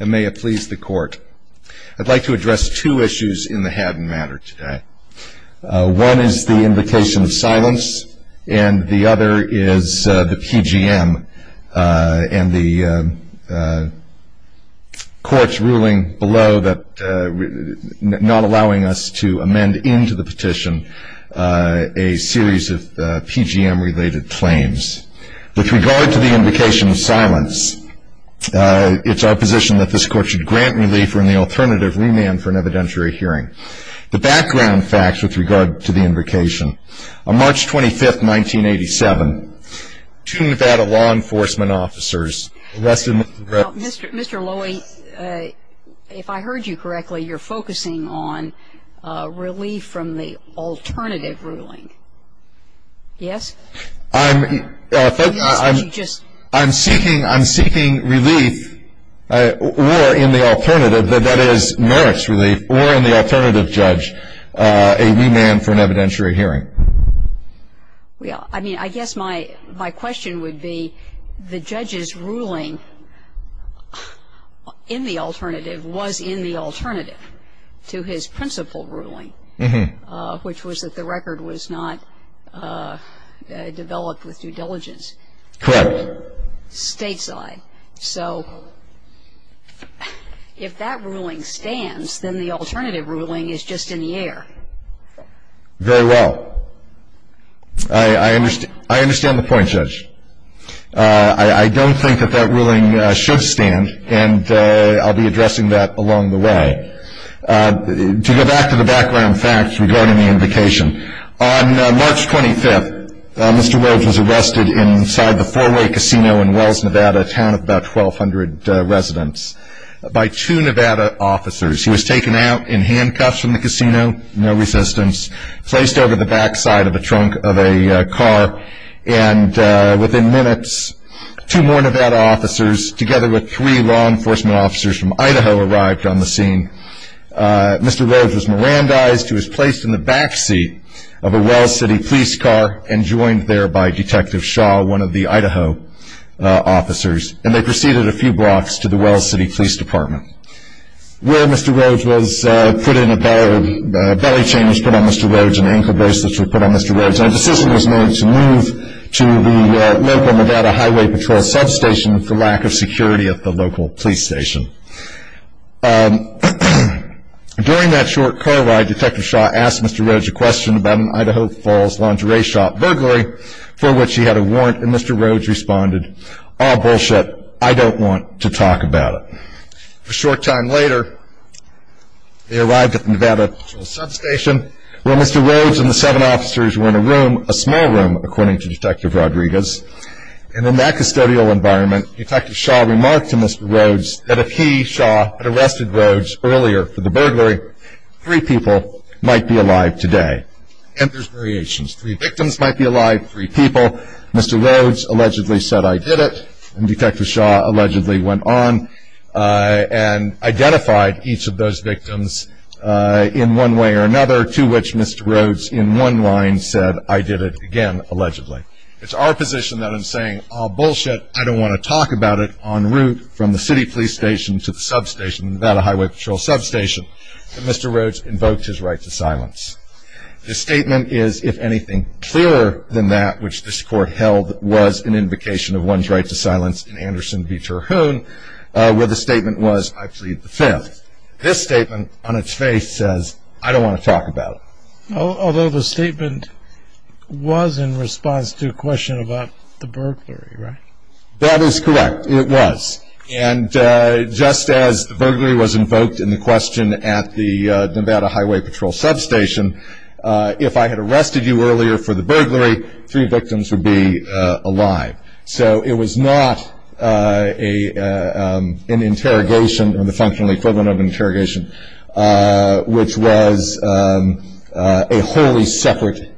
And may it please the court, I'd like to address two issues in the Haddon matter today. One is the invocation of silence, and the other is the PGM and the court's ruling below that not allowing us to amend into the petition a series of PGM-related claims. With regard to the invocation of silence, it's our position that this Court should grant relief or, in the alternative, remand for an evidentiary hearing. The background facts with regard to the invocation, on March 25, 1987, two Nevada law enforcement officers arrested Mr. Lowy, if I heard you correctly, you're focusing on relief from the alternative ruling. Yes? I'm seeking relief or, in the alternative, that is, merits relief, or in the alternative judge, a remand for an evidentiary hearing. Well, I mean, I guess my question would be, the judge's ruling in the alternative was in the alternative to his principal ruling, which was that the record was not developed with due diligence. Correct. Stateside. So if that ruling stands, then the alternative ruling is just in the air. Very well. I understand the point, Judge. I don't think that that ruling should stand, and I'll be addressing that along the way. To go back to the background facts regarding the invocation, on March 25, Mr. Lowy was arrested inside the 4-Way Casino in Wells, Nevada, a town of about 1,200 residents, by two Nevada officers. He was taken out in handcuffs from the casino, no resistance, placed over the back side of a trunk of a car, and within minutes, two more Nevada officers, together with three law enforcement officers from Idaho, arrived on the scene. Mr. Lowy was Mirandized. He was placed in the back seat of a Wells City police car, and joined there by Detective Shaw, one of the Idaho officers, and they proceeded a few blocks to the Wells City Police Department, where Mr. Lowy was put in a belly chain, was put on Mr. Lowy's, and ankle bracelets were put on Mr. Lowy's, and a decision was made to move to the local Nevada Highway Patrol substation for lack of security at the local police station. During that short car ride, Detective Shaw asked Mr. Roge a question about an Idaho Falls lingerie shop burglary, for which he had a warrant, and Mr. Roge responded, ah, bullshit, I don't want to talk about it. A short time later, they arrived at the Nevada Highway Patrol substation, where Mr. Roge and the seven officers were in a room, a small room, according to Detective Rodriguez, and in that custodial environment, Detective Shaw remarked to Mr. Roge that if he, Shaw, had arrested Roge earlier for the burglary, three people might be alive today. And there's variations. Three victims might be alive, three people. Mr. Roge allegedly said, I did it, and Detective Shaw allegedly went on and identified each of those victims in one way or another, to which Mr. Roge, in one line, said, I did it again, allegedly. It's our position that I'm saying, ah, bullshit, I don't want to talk about it, en route from the city police station to the substation, Nevada Highway Patrol substation, and Mr. Roge invoked his right to silence. The statement is, if anything clearer than that, which this court held was an invocation of one's right to silence in Anderson v. Terhoon, where the statement was, I plead the fifth. This statement, on its face, says, I don't want to talk about it. Although the statement was in response to a question about the burglary, right? That is correct. It was. And just as the burglary was invoked in the question at the Nevada Highway Patrol substation, if I had arrested you earlier for the burglary, three victims would be alive. So it was not an interrogation, or the functional equivalent of an interrogation, which was a wholly separate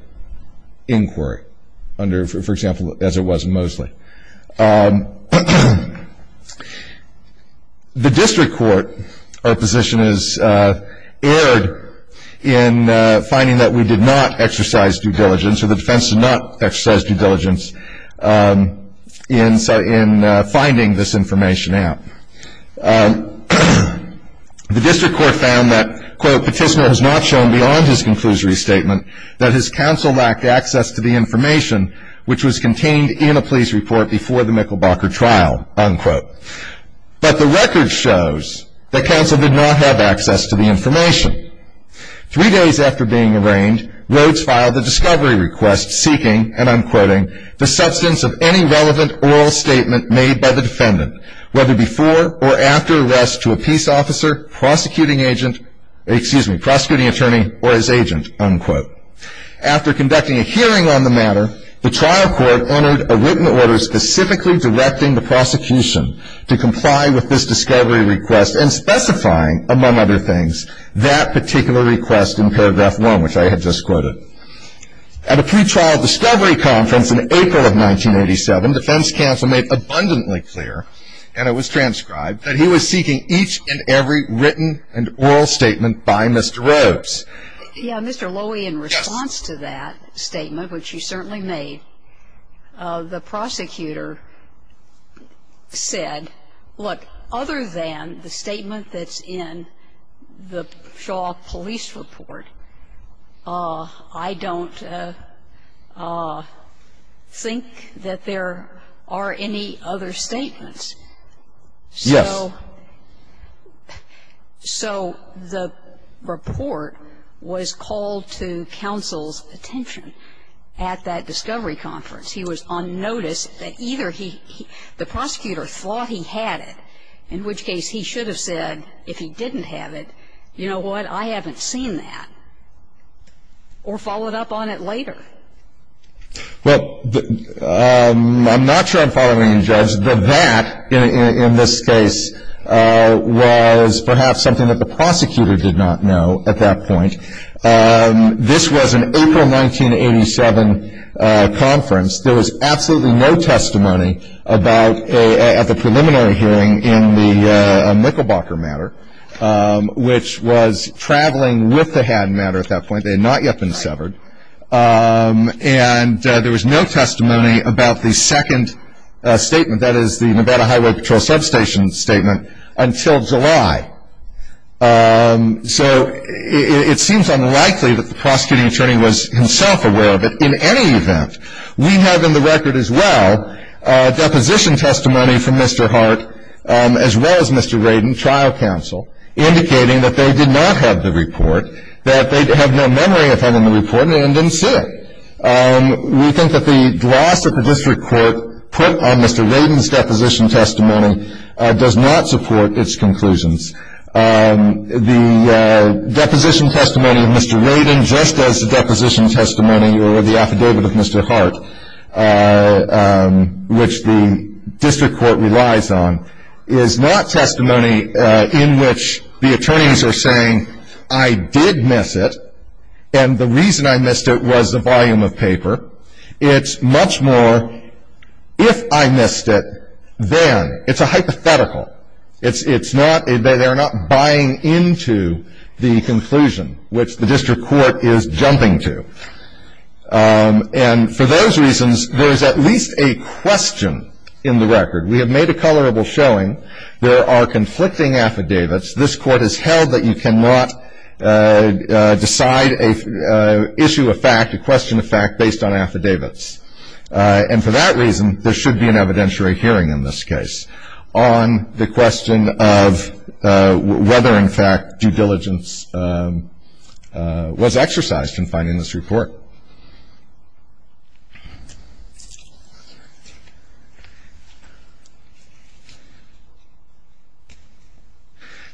inquiry under, for example, as it was in Mosley. The district court, our position is, erred in finding that we did not exercise due diligence, or the defense did not exercise due diligence in finding this information out. The district court found that, quote, Petitioner has not shown beyond his conclusory statement that his counsel lacked access to the information which was contained in a please report before the Michelbacher trial, unquote. But the record shows that counsel did not have access to the information. Three days after being arraigned, Rhodes filed a discovery request seeking, and I'm quoting, the substance of any relevant oral statement made by the defendant, whether before or after arrest to a peace officer, prosecuting agent, excuse me, prosecuting attorney, or his agent, unquote. After conducting a hearing on the matter, the trial court entered a written order specifically directing the prosecution to comply with this discovery request, and specifying, among other things, that particular request in paragraph one, which I had just quoted. At a pretrial discovery conference in April of 1987, defense counsel made abundantly clear, and it was transcribed, that he was seeking each and every written and oral statement by Mr. Rhodes. Yeah, Mr. Lowy, in response to that statement, which you certainly made, the prosecutor said, look, other than the statement that's in the Shaw police report, I don't think that there are any other statements. So the report was called to counsel's attention at that discovery conference. And the prosecutor thought he had it, in which case he should have said, if he didn't have it, you know what, I haven't seen that, or followed up on it later. Well, I'm not sure I'm following you, Judge. The that, in this case, was perhaps something that the prosecutor did not know at that point. This was an April 1987 conference. There was absolutely no testimony at the preliminary hearing in the Nickelbacher matter, which was traveling with the Hadden matter at that point. They had not yet been severed. And there was no testimony about the second statement, that is, the Nevada Highway Patrol substation statement, until July. So it seems unlikely that the prosecuting attorney was himself aware of it in any event. We have in the record, as well, deposition testimony from Mr. Hart, as well as Mr. Radin, trial counsel, indicating that they did not have the report, that they have no memory of having the report, and didn't see it. We think that the gloss that the district court put on Mr. Radin's deposition testimony does not support its conclusions. The deposition testimony of Mr. Radin, just as the deposition testimony or the affidavit of Mr. Hart, which the district court relies on, is not testimony in which the attorneys are saying, I did miss it, and the reason I missed it was the volume of paper. It's much more, if I missed it, then. It's a hypothetical. It's not, they're not buying into the conclusion, which the district court is jumping to. And for those reasons, there is at least a question in the record. We have made a colorable showing. There are conflicting affidavits. This court has held that you cannot decide, issue a fact, a question of fact, based on affidavits. And for that reason, there should be an evidentiary hearing in this case on the question of whether, in fact, due diligence was exercised in finding this report.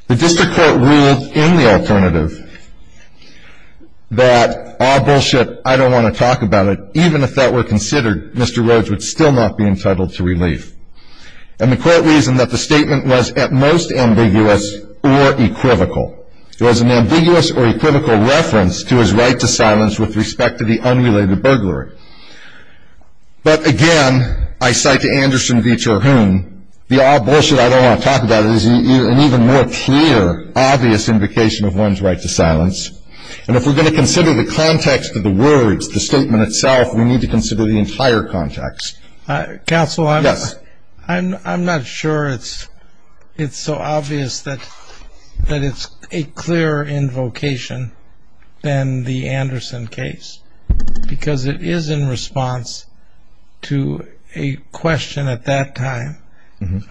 The district court ruled in the alternative that, ah, bullshit, I don't want to talk about it, even if that were considered, Mr. Rhodes would still not be entitled to relief. And the court reasoned that the statement was at most ambiguous or equivocal. It was an ambiguous or equivocal reference to his right to silence with respect to the unrelated burglary. But again, I cite to Anderson v. Terhune, the ah, bullshit, I don't want to talk about it, is an even more clear, obvious indication of one's right to silence. And if we're going to consider the context of the words, the statement itself, we need to consider the entire context. Counsel, I'm not sure it's so obvious that it's a clearer invocation than the Anderson case, because it is in response to a question at that time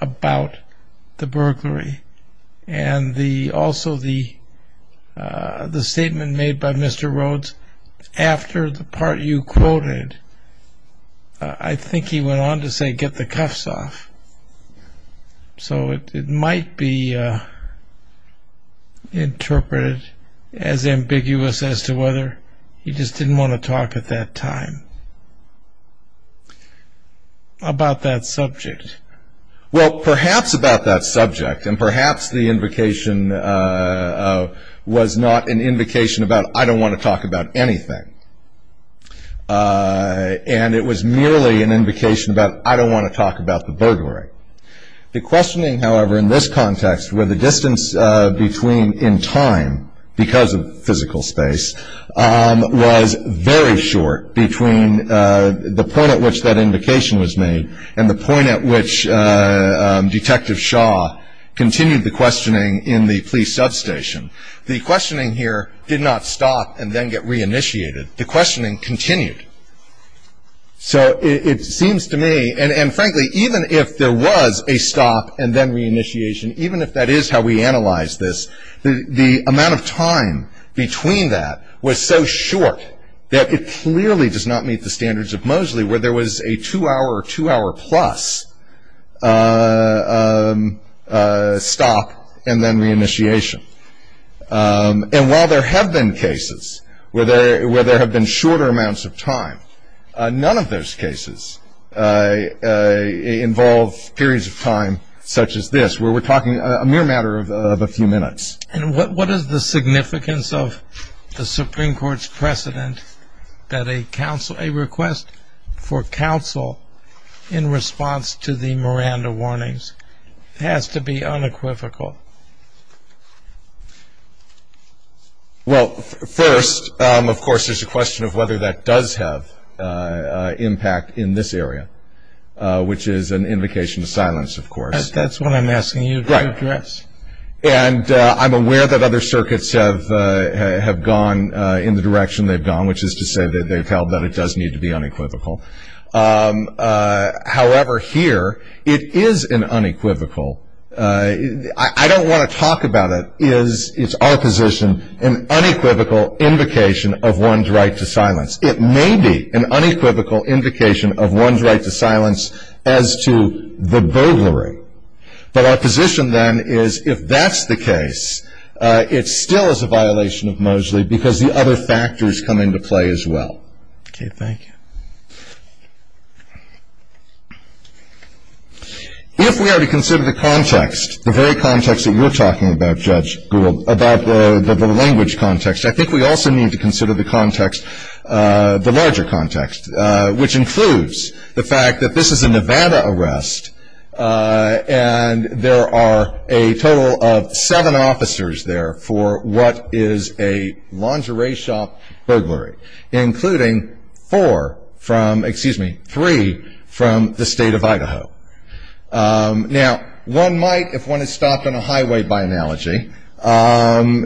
about the burglary. And the, also the, ah, the statement made by Mr. Rhodes after the part you quoted, I think he went on to say, get the cuffs off. So it might be, ah, interpreted as ambiguous as to whether he just didn't want to talk at that time about that subject. Well, perhaps about that subject, and perhaps the invocation, ah, was not an invocation about I don't want to talk about anything. Ah, and it was merely an invocation about I don't want to talk about the burglary. The questioning, however, in this context, where the distance between in time, because of physical space, was very short between the point at which that invocation was made, and the point at which Detective Shaw continued the questioning in the police substation. The questioning here did not stop and then get re-initiated. The questioning continued. So it seems to me, and frankly, even if there was a stop and then re-initiation, even if that is how we analyze this, the amount of time between that was so short that it clearly does not meet the standards of Moseley, where there was a two-hour or two-hour-plus stop and then re-initiation. And while there have been cases where there have been shorter amounts of time, none of those cases involve periods of time such as this, where we're talking a mere matter of a few minutes. And what is the significance of the Supreme Court's precedent that a request for counsel in response to the Miranda warnings has to be unequivocal? Well, first, of course, there's a question of whether that does have impact in this area, which is an invocation of silence, of course. That's what I'm asking you to address. Right. And I'm aware that other circuits have gone in the direction they've gone, which is to say that they've held that it does need to be unequivocal. However, here, it is unequivocal. I don't want to talk about it. It's our position, an unequivocal invocation of one's right to silence. It may be an unequivocal invocation of one's right to silence as to the burglary, but our position then is if that's the case, it still is a violation of Moseley because the other factors come into play as well. Okay. Thank you. If we are to consider the context, the very context that you're talking about, Judge Gould, about the language context, I think we also need to consider the context, the larger context, which includes the fact that this is a Nevada arrest, and there are a total of seven officers there for what is a lingerie shop burglary, including four from, excuse me, three from the state of Idaho. Now, one might, if one is stopped on a highway, by analogy, and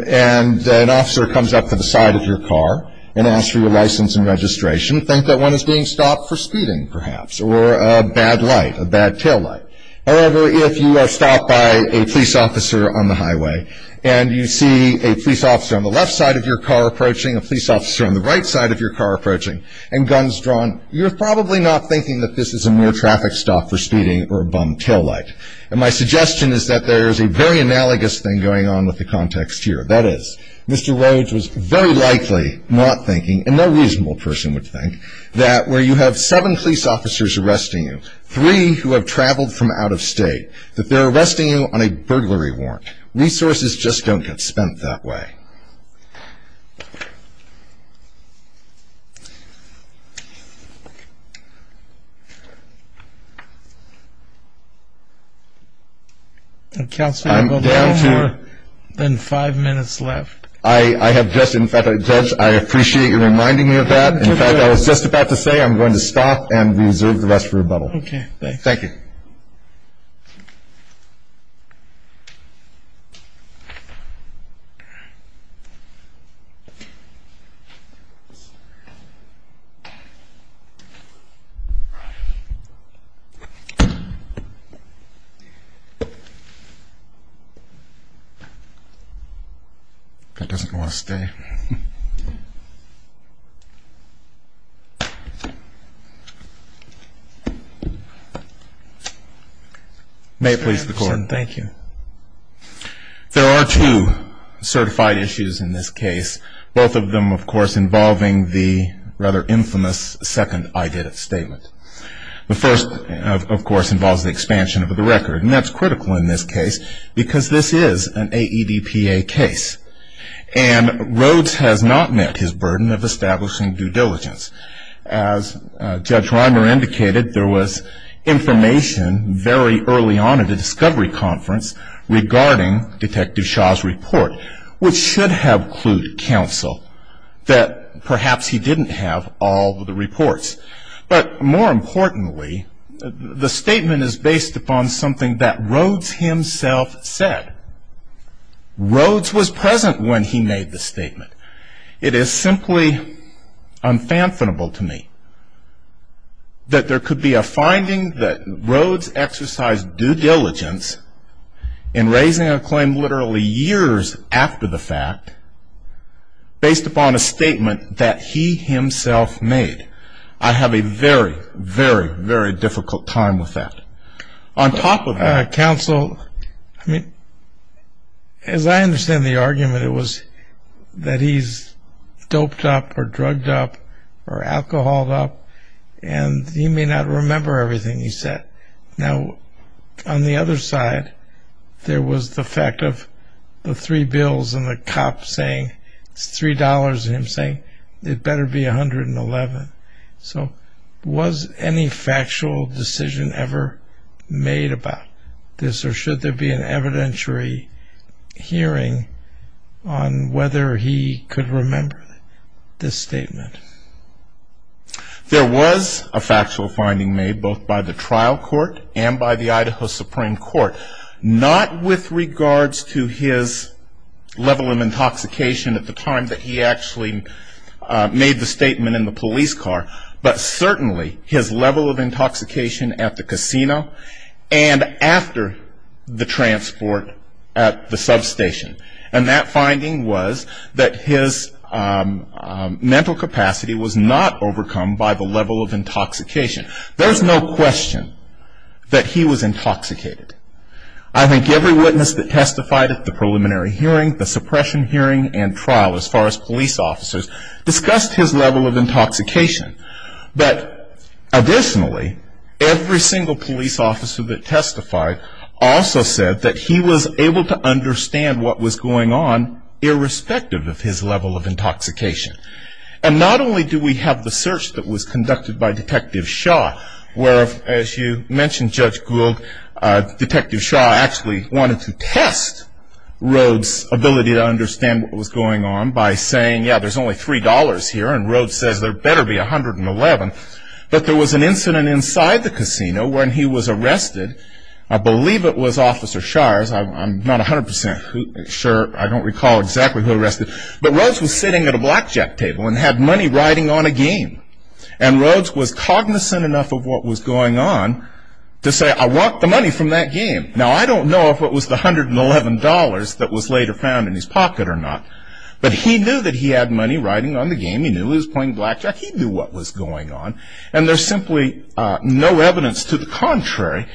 an officer comes up to the side of your car and asks for your license and registration, think that one is being stopped for speeding, perhaps, or a bad light, a bad tail light. However, if you are stopped by a police officer on the highway and you see a police officer on the left side of your car approaching, a police officer on the right side of your car approaching, and guns drawn, you're probably not thinking that this is a mere traffic stop for speeding or a bum tail light. And my suggestion is that there is a very analogous thing going on with the context here. That is, Mr. Rhodes was very likely not thinking, and no reasonable person would think, that where you have seven police officers arresting you, three who have traveled from out of state, that they're arresting you on a burglary warrant. Resources just don't get spent that way. Counsel, you have no more than five minutes left. I have just, in fact, I appreciate you reminding me of that. In fact, I was just about to say I'm going to stop and reserve the rest for rebuttal. Okay. Thanks. Thank you. That doesn't want to stay. May it please the court. There are two certified issues in this case. Both of them, of course, involving the rather infamous second I did it statement. The first, of course, involves the expansion of the record. And that's critical in this case because this is an AEDPA case. And Rhodes has not met his burden of establishing due diligence. As Judge Reimer indicated, there was information very early on at the discovery conference regarding Detective Shaw's report, which should have clued counsel that perhaps he didn't have all of the reports. But more importantly, the statement is based upon something that Rhodes himself said. Rhodes was present when he made the statement. It is simply unfathomable to me that there could be a finding that Rhodes exercised due diligence in raising a claim literally years after the fact based upon a statement that he himself made. I have a very, very, very difficult time with that. Counsel, I mean, as I understand the argument, it was that he's doped up or drugged up or alcoholed up, and he may not remember everything he said. Now, on the other side, there was the fact of the three bills and the cop saying it's $3 and him saying it better be $111. So was any factual decision ever made about this, or should there be an evidentiary hearing on whether he could remember this statement? There was a factual finding made both by the trial court and by the Idaho Supreme Court, not with regards to his level of intoxication at the time that he actually made the statement in the police car, but certainly his level of intoxication at the casino and after the transport at the substation. And that finding was that his mental capacity was not overcome by the level of intoxication. There's no question that he was intoxicated. I think every witness that testified at the preliminary hearing, the suppression hearing, and trial as far as police officers discussed his level of intoxication. But additionally, every single police officer that testified also said that he was able to understand what was going on irrespective of his level of intoxication. And not only do we have the search that was conducted by Detective Shaw, where, as you mentioned, Judge Gould, Detective Shaw actually wanted to test Rhodes' ability to understand what was going on by saying, yeah, there's only $3 here and Rhodes says there better be $111. But there was an incident inside the casino when he was arrested. I believe it was Officer Shires. I'm not 100% sure. I don't recall exactly who arrested. But Rhodes was sitting at a blackjack table and had money riding on a game. And Rhodes was cognizant enough of what was going on to say, I want the money from that game. Now, I don't know if it was the $111 that was later found in his pocket or not, but he knew that he had money riding on the game. He knew he was playing blackjack. He knew what was going on. And there's simply no evidence to the contrary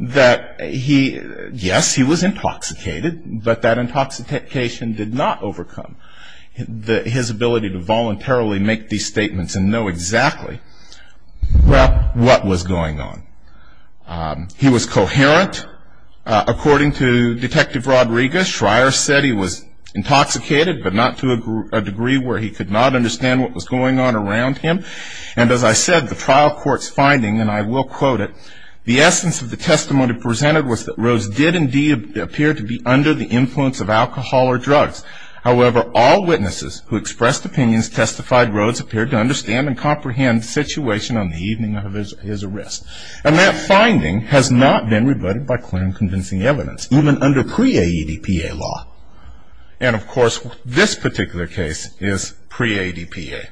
that he, yes, he was intoxicated, but that intoxication did not overcome his ability to voluntarily make these statements and know exactly what was going on. He was coherent. According to Detective Rodriguez, Shires said he was intoxicated, but not to a degree where he could not understand what was going on around him. And as I said, the trial court's finding, and I will quote it, the essence of the testimony presented was that Rhodes did indeed appear to be under the influence of alcohol or drugs. However, all witnesses who expressed opinions testified Rhodes appeared to understand and comprehend the situation on the evening of his arrest. And that finding has not been rebutted by clear and convincing evidence, even under pre-AEDPA law. And, of course, this particular case is pre-AEDPA.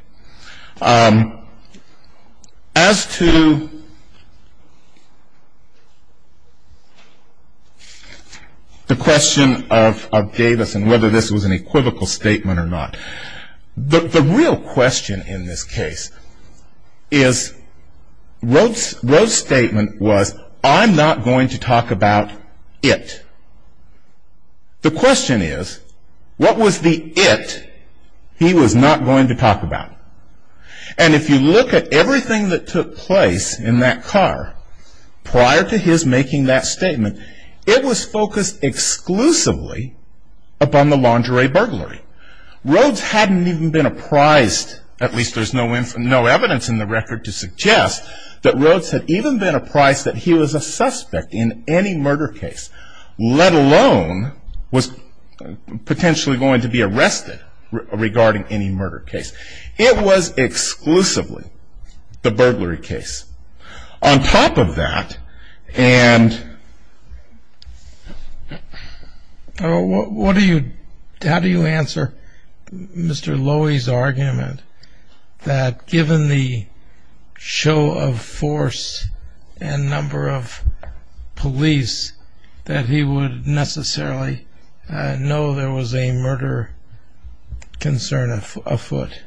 As to the question of Davis and whether this was an equivocal statement or not, the real question in this case is Rhodes' statement was, I'm not going to talk about it. The question is, what was the it he was not going to talk about? And if you look at everything that took place in that car prior to his making that statement, it was focused exclusively upon the lingerie burglary. Rhodes hadn't even been apprised, at least there's no evidence in the record to suggest, that Rhodes had even been apprised that he was a suspect in any murder case, let alone was potentially going to be arrested regarding any murder case. It was exclusively the burglary case. On top of that, and... How do you answer Mr. Lowy's argument that given the show of force and number of police, that he would necessarily know there was a murder concern afoot?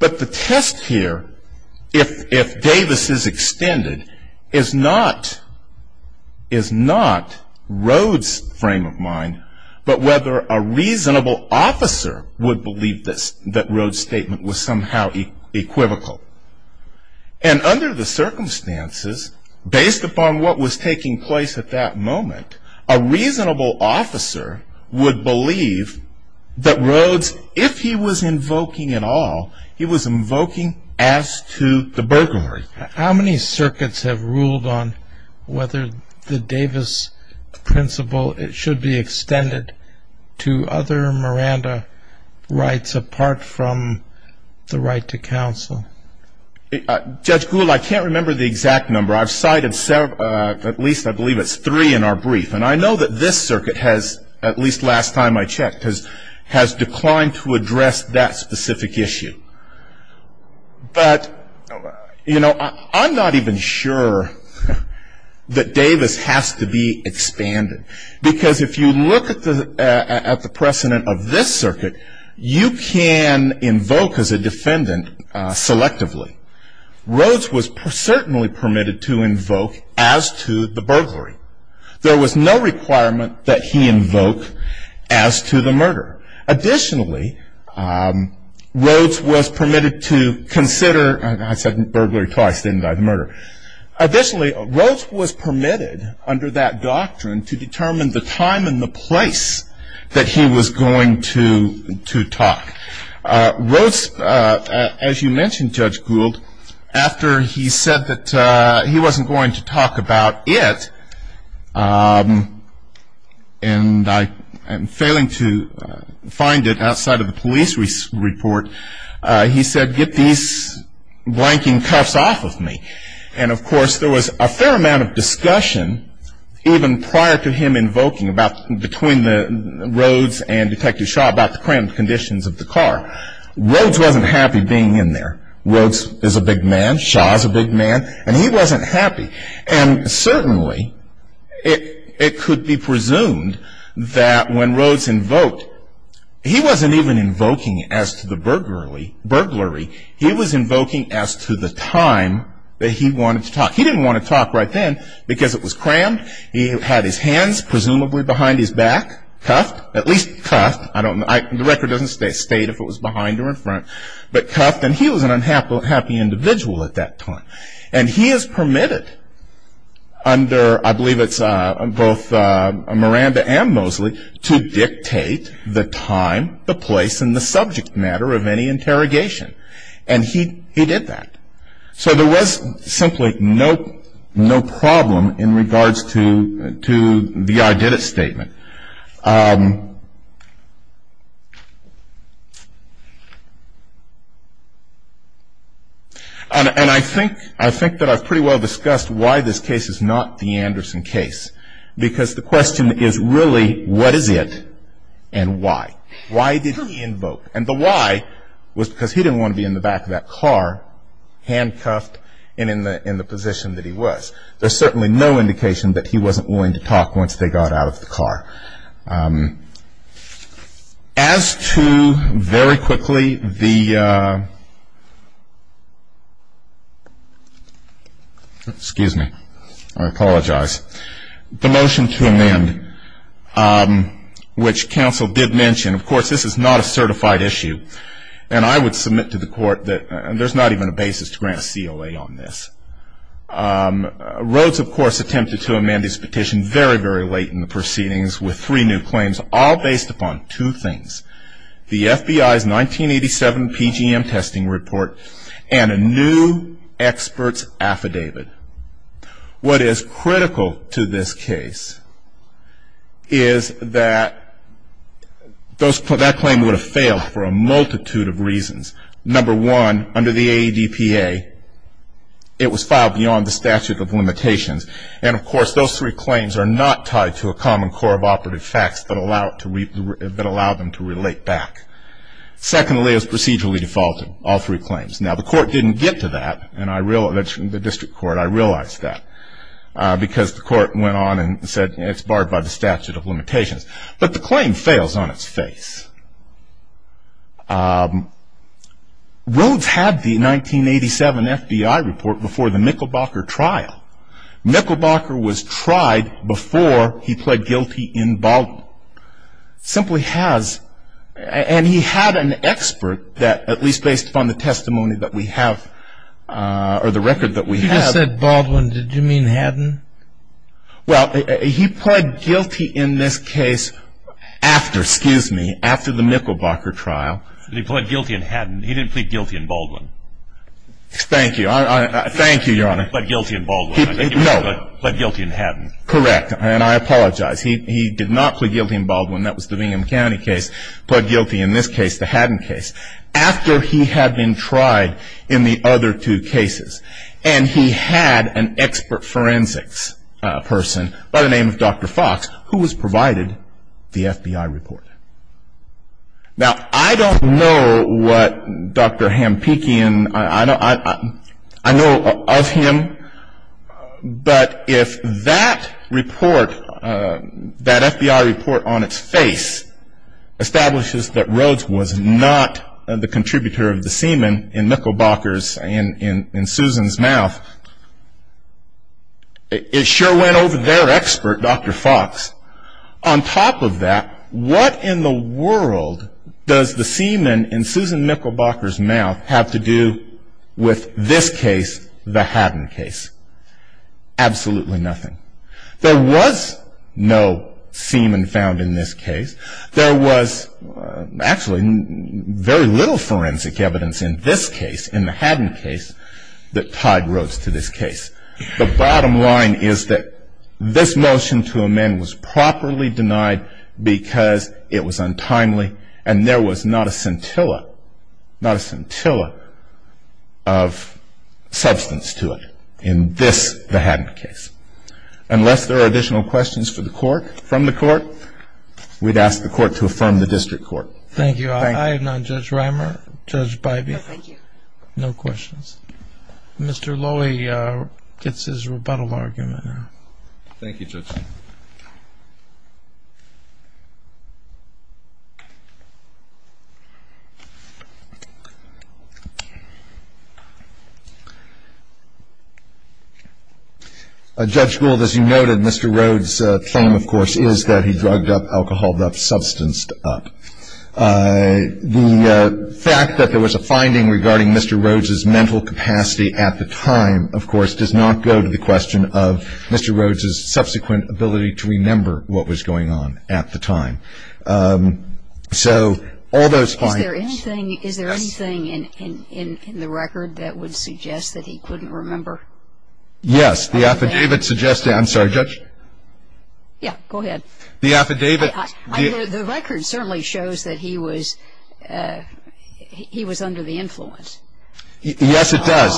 But the test here, if Davis is extended, is not Rhodes' frame of mind, but whether a reasonable officer would believe that Rhodes' statement was somehow equivocal. And under the circumstances, based upon what was taking place at that moment, a reasonable officer would believe that Rhodes, if he was invoking at all, he was invoking as to the burglary. How many circuits have ruled on whether the Davis principle should be extended to other Miranda rights apart from the right to counsel? Judge Gould, I can't remember the exact number. I've cited at least I believe it's three in our brief. And I know that this circuit has, at least last time I checked, has declined to address that specific issue. But, you know, I'm not even sure that Davis has to be expanded. Because if you look at the precedent of this circuit, you can invoke as a defendant selectively. Rhodes was certainly permitted to invoke as to the burglary. There was no requirement that he invoke as to the murder. Additionally, Rhodes was permitted to consider, and I said burglary twice, didn't I, the murder. Additionally, Rhodes was permitted under that doctrine to determine the time and the place that he was going to talk. Rhodes, as you mentioned, Judge Gould, after he said that he wasn't going to talk about it, and I'm failing to find it outside of the police report, he said get these blanking cuffs off of me. And, of course, there was a fair amount of discussion even prior to him invoking between Rhodes and Detective Shaw about the crammed conditions of the car. Rhodes wasn't happy being in there. Rhodes is a big man. Shaw is a big man. And he wasn't happy. And certainly it could be presumed that when Rhodes invoked, he wasn't even invoking as to the burglary. He was invoking as to the time that he wanted to talk. He didn't want to talk right then because it was crammed. He had his hands presumably behind his back, cuffed, at least cuffed. The record doesn't state if it was behind or in front, but cuffed. And he was an unhappy individual at that time. And he is permitted under, I believe it's both Miranda and Mosley, to dictate the time, the place, and the subject matter of any interrogation. And he did that. So there was simply no problem in regards to the I did it statement. And I think that I've pretty well discussed why this case is not the Anderson case. Because the question is really what is it and why? Why did he invoke? And the why was because he didn't want to be in the back of that car, handcuffed, and in the position that he was. There's certainly no indication that he wasn't willing to talk once they got out of the car. As to, very quickly, the motion to amend, which counsel did mention, of course, this is not a certified issue. And I would submit to the court that there's not even a basis to grant COA on this. Rhodes, of course, attempted to amend his petition very, very late in the proceedings with three new claims, all based upon two things, the FBI's 1987 PGM testing report and a new expert's affidavit. What is critical to this case is that that claim would have failed for a multitude of reasons. Number one, under the AEDPA, it was filed beyond the statute of limitations. And, of course, those three claims are not tied to a common core of operative facts that allow them to relate back. Secondly, it was procedurally defaulted, all three claims. Now, the court didn't get to that. And I realize that's from the district court. I realize that because the court went on and said it's barred by the statute of limitations. But the claim fails on its face. Rhodes had the 1987 FBI report before the Michelbacher trial. Michelbacher was tried before he pled guilty in Baldwin. Simply has. And he had an expert that, at least based upon the testimony that we have or the record that we have. You just said Baldwin. Did you mean Haddon? Well, he pled guilty in this case after, excuse me, after the Michelbacher trial. He pled guilty in Haddon. He didn't plead guilty in Baldwin. Thank you. Thank you, Your Honor. He pled guilty in Baldwin. No. He pled guilty in Haddon. Correct. And I apologize. He did not plead guilty in Baldwin. That was the Bingham County case. He pled guilty in this case, the Haddon case, after he had been tried in the other two cases. And he had an expert forensics person by the name of Dr. Fox who was provided the FBI report. Now, I don't know what Dr. Hampikian, I know of him. But if that report, that FBI report on its face, establishes that Rhodes was not the contributor of the semen in Michelbacher's, in Susan's mouth, it sure went over their expert, Dr. Fox. On top of that, what in the world does the semen in Susan Michelbacher's mouth have to do with this case, the Haddon case? Absolutely nothing. There was no semen found in this case. There was actually very little forensic evidence in this case, in the Haddon case, that tied Rhodes to this case. The bottom line is that this motion to amend was properly denied because it was untimely and there was not a scintilla, not a scintilla of substance to it in this, the Haddon case. Unless there are additional questions for the court, from the court, we'd ask the court to affirm the district court. Thank you. I have none. Judge Reimer? Judge Bybee? No, thank you. No questions. Mr. Lowy gets his rebuttal argument now. Thank you, Judge. Judge Gould, as you noted, Mr. Rhodes' claim, of course, is that he drugged up, alcoholed up, substanced up. The fact that there was a finding regarding Mr. Rhodes' mental capacity at the time, of course, does not go to the question of Mr. Rhodes' subsequent ability to remember what was going on at the time. So, all those findings. Is there anything in the record that would suggest that he couldn't remember? Yes. The affidavit suggests that. I'm sorry, Judge? Yeah, go ahead. The affidavit. The record certainly shows that he was under the influence. Yes, it does.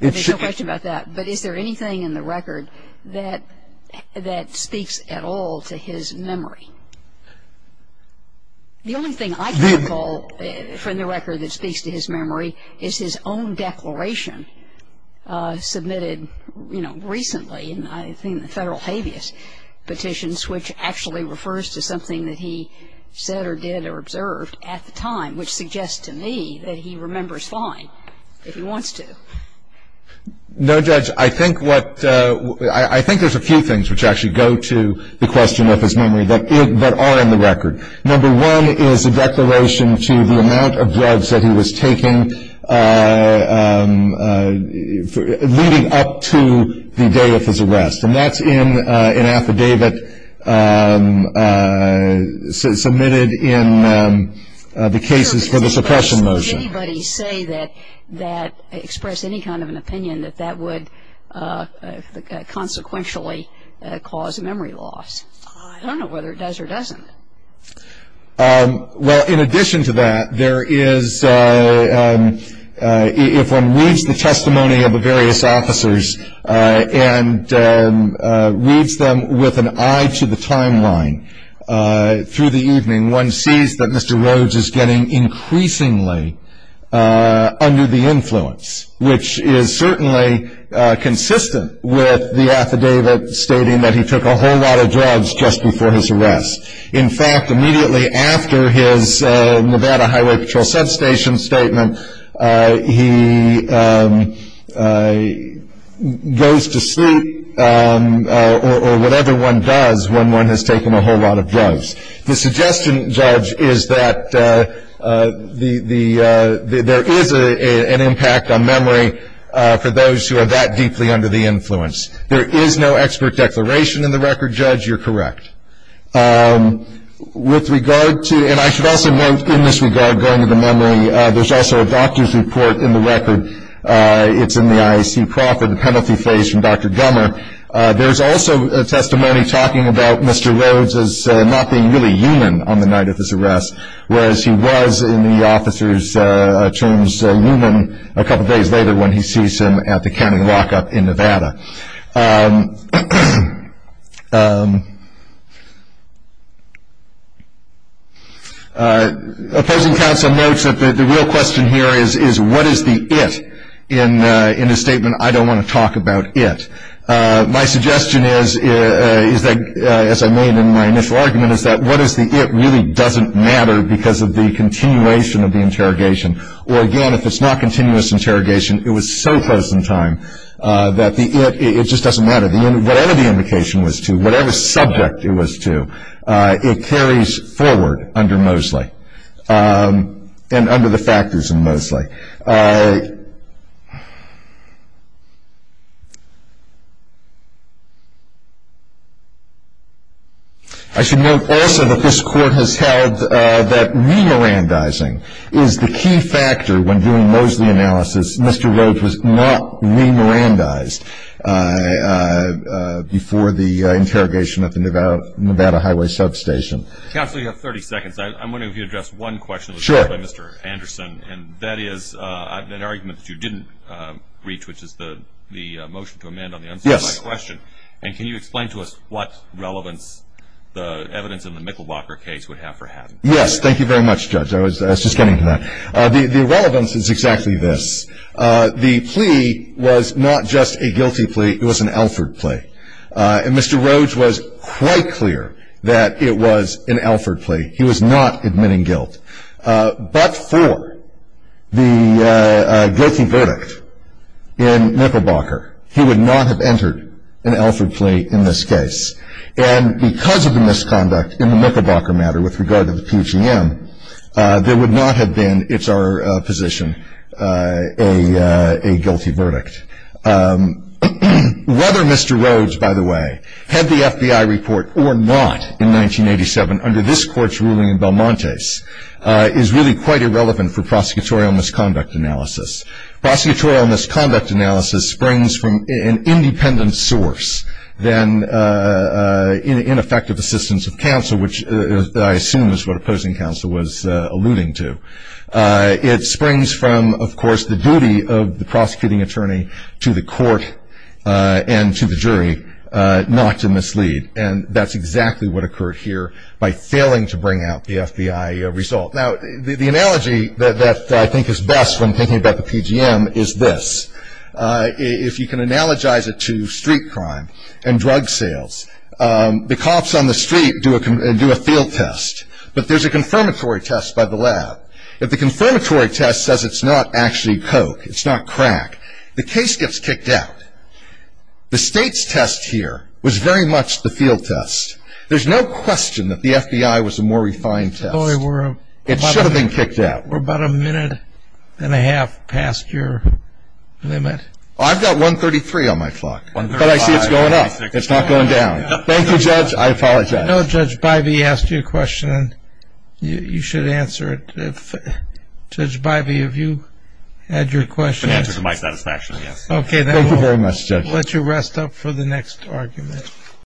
There's no question about that. But is there anything in the record that speaks at all to his memory? The only thing I can recall from the record that speaks to his memory is his own declaration submitted, you know, recently in the Federal habeas petitions, which actually refers to something that he said or did or observed at the time, which suggests to me that he remembers fine if he wants to. No, Judge. I think there's a few things which actually go to the question of his memory that are in the record. Number one is a declaration to the amount of drugs that he was taking leading up to the day of his arrest. And that's in an affidavit submitted in the cases for the suppression motion. Does anybody say that, express any kind of an opinion that that would consequentially cause memory loss? I don't know whether it does or doesn't. Well, in addition to that, there is, if one reads the testimony of the various officers and reads them with an eye to the timeline through the evening, one sees that Mr. Rhodes is getting increasingly under the influence, which is certainly consistent with the affidavit stating that he took a whole lot of drugs just before his arrest. In fact, immediately after his Nevada Highway Patrol substation statement, he goes to sleep or whatever one does when one has taken a whole lot of drugs. The suggestion, Judge, is that there is an impact on memory for those who are that deeply under the influence. There is no expert declaration in the record, Judge. You're correct. With regard to, and I should also note in this regard going to the memory, there's also a doctor's report in the record. It's in the IAC profit and penalty phase from Dr. Gummer. There's also testimony talking about Mr. Rhodes as not being really human on the night of his arrest, whereas he was in the officer's terms human a couple days later when he sees him at the county lockup in Nevada. Opposing counsel notes that the real question here is what is the it in a statement, I don't want to talk about it. My suggestion is, as I made in my initial argument, is that what is the it really doesn't matter because of the continuation of the interrogation. Or again, if it's not continuous interrogation, it was so close in time that the it just doesn't matter. Whatever the indication was to, whatever subject it was to, it carries forward under Mosley and under the factors in Mosley. I should note also that this court has held that re-Mirandizing is the key factor when doing Mosley analysis. Mr. Rhodes was not re-Mirandized before the interrogation at the Nevada Highway Substation. Counsel, you have 30 seconds. I'm wondering if you could address one question that was raised by Mr. Anderson, and that is an argument that you didn't reach, which is the motion to amend on the unsubstantiated question. Yes. And can you explain to us what relevance the evidence in the Mickelbocker case would have for having it? Yes, thank you very much, Judge. I was just getting to that. The relevance is exactly this. The plea was not just a guilty plea, it was an Alford plea. And Mr. Rhodes was quite clear that it was an Alford plea. He was not admitting guilt. But for the guilty verdict in Mickelbocker, he would not have entered an Alford plea in this case. And because of the misconduct in the Mickelbocker matter with regard to the PGM, there would not have been, it's our position, a guilty verdict. Whether Mr. Rhodes, by the way, had the FBI report or not in 1987 under this court's ruling in Belmontes is really quite irrelevant for prosecutorial misconduct analysis. Prosecutorial misconduct analysis springs from an independent source than ineffective assistance of counsel, which I assume is what opposing counsel was alluding to. It springs from, of course, the duty of the prosecuting attorney to the court and to the jury not to mislead. And that's exactly what occurred here by failing to bring out the FBI result. Now, the analogy that I think is best when thinking about the PGM is this. If you can analogize it to street crime and drug sales, the cops on the street do a field test, but there's a confirmatory test by the lab. If the confirmatory test says it's not actually coke, it's not crack, the case gets kicked out. The state's test here was very much the field test. There's no question that the FBI was a more refined test. It should have been kicked out. We're about a minute and a half past your limit. I've got 133 on my clock, but I see it's going up. It's not going down. Thank you, Judge. I apologize. No, Judge Bivey asked you a question, and you should answer it. Judge Bivey, if you had your question. The answer to my satisfaction, yes. Okay, then we'll let you rest up for the next argument.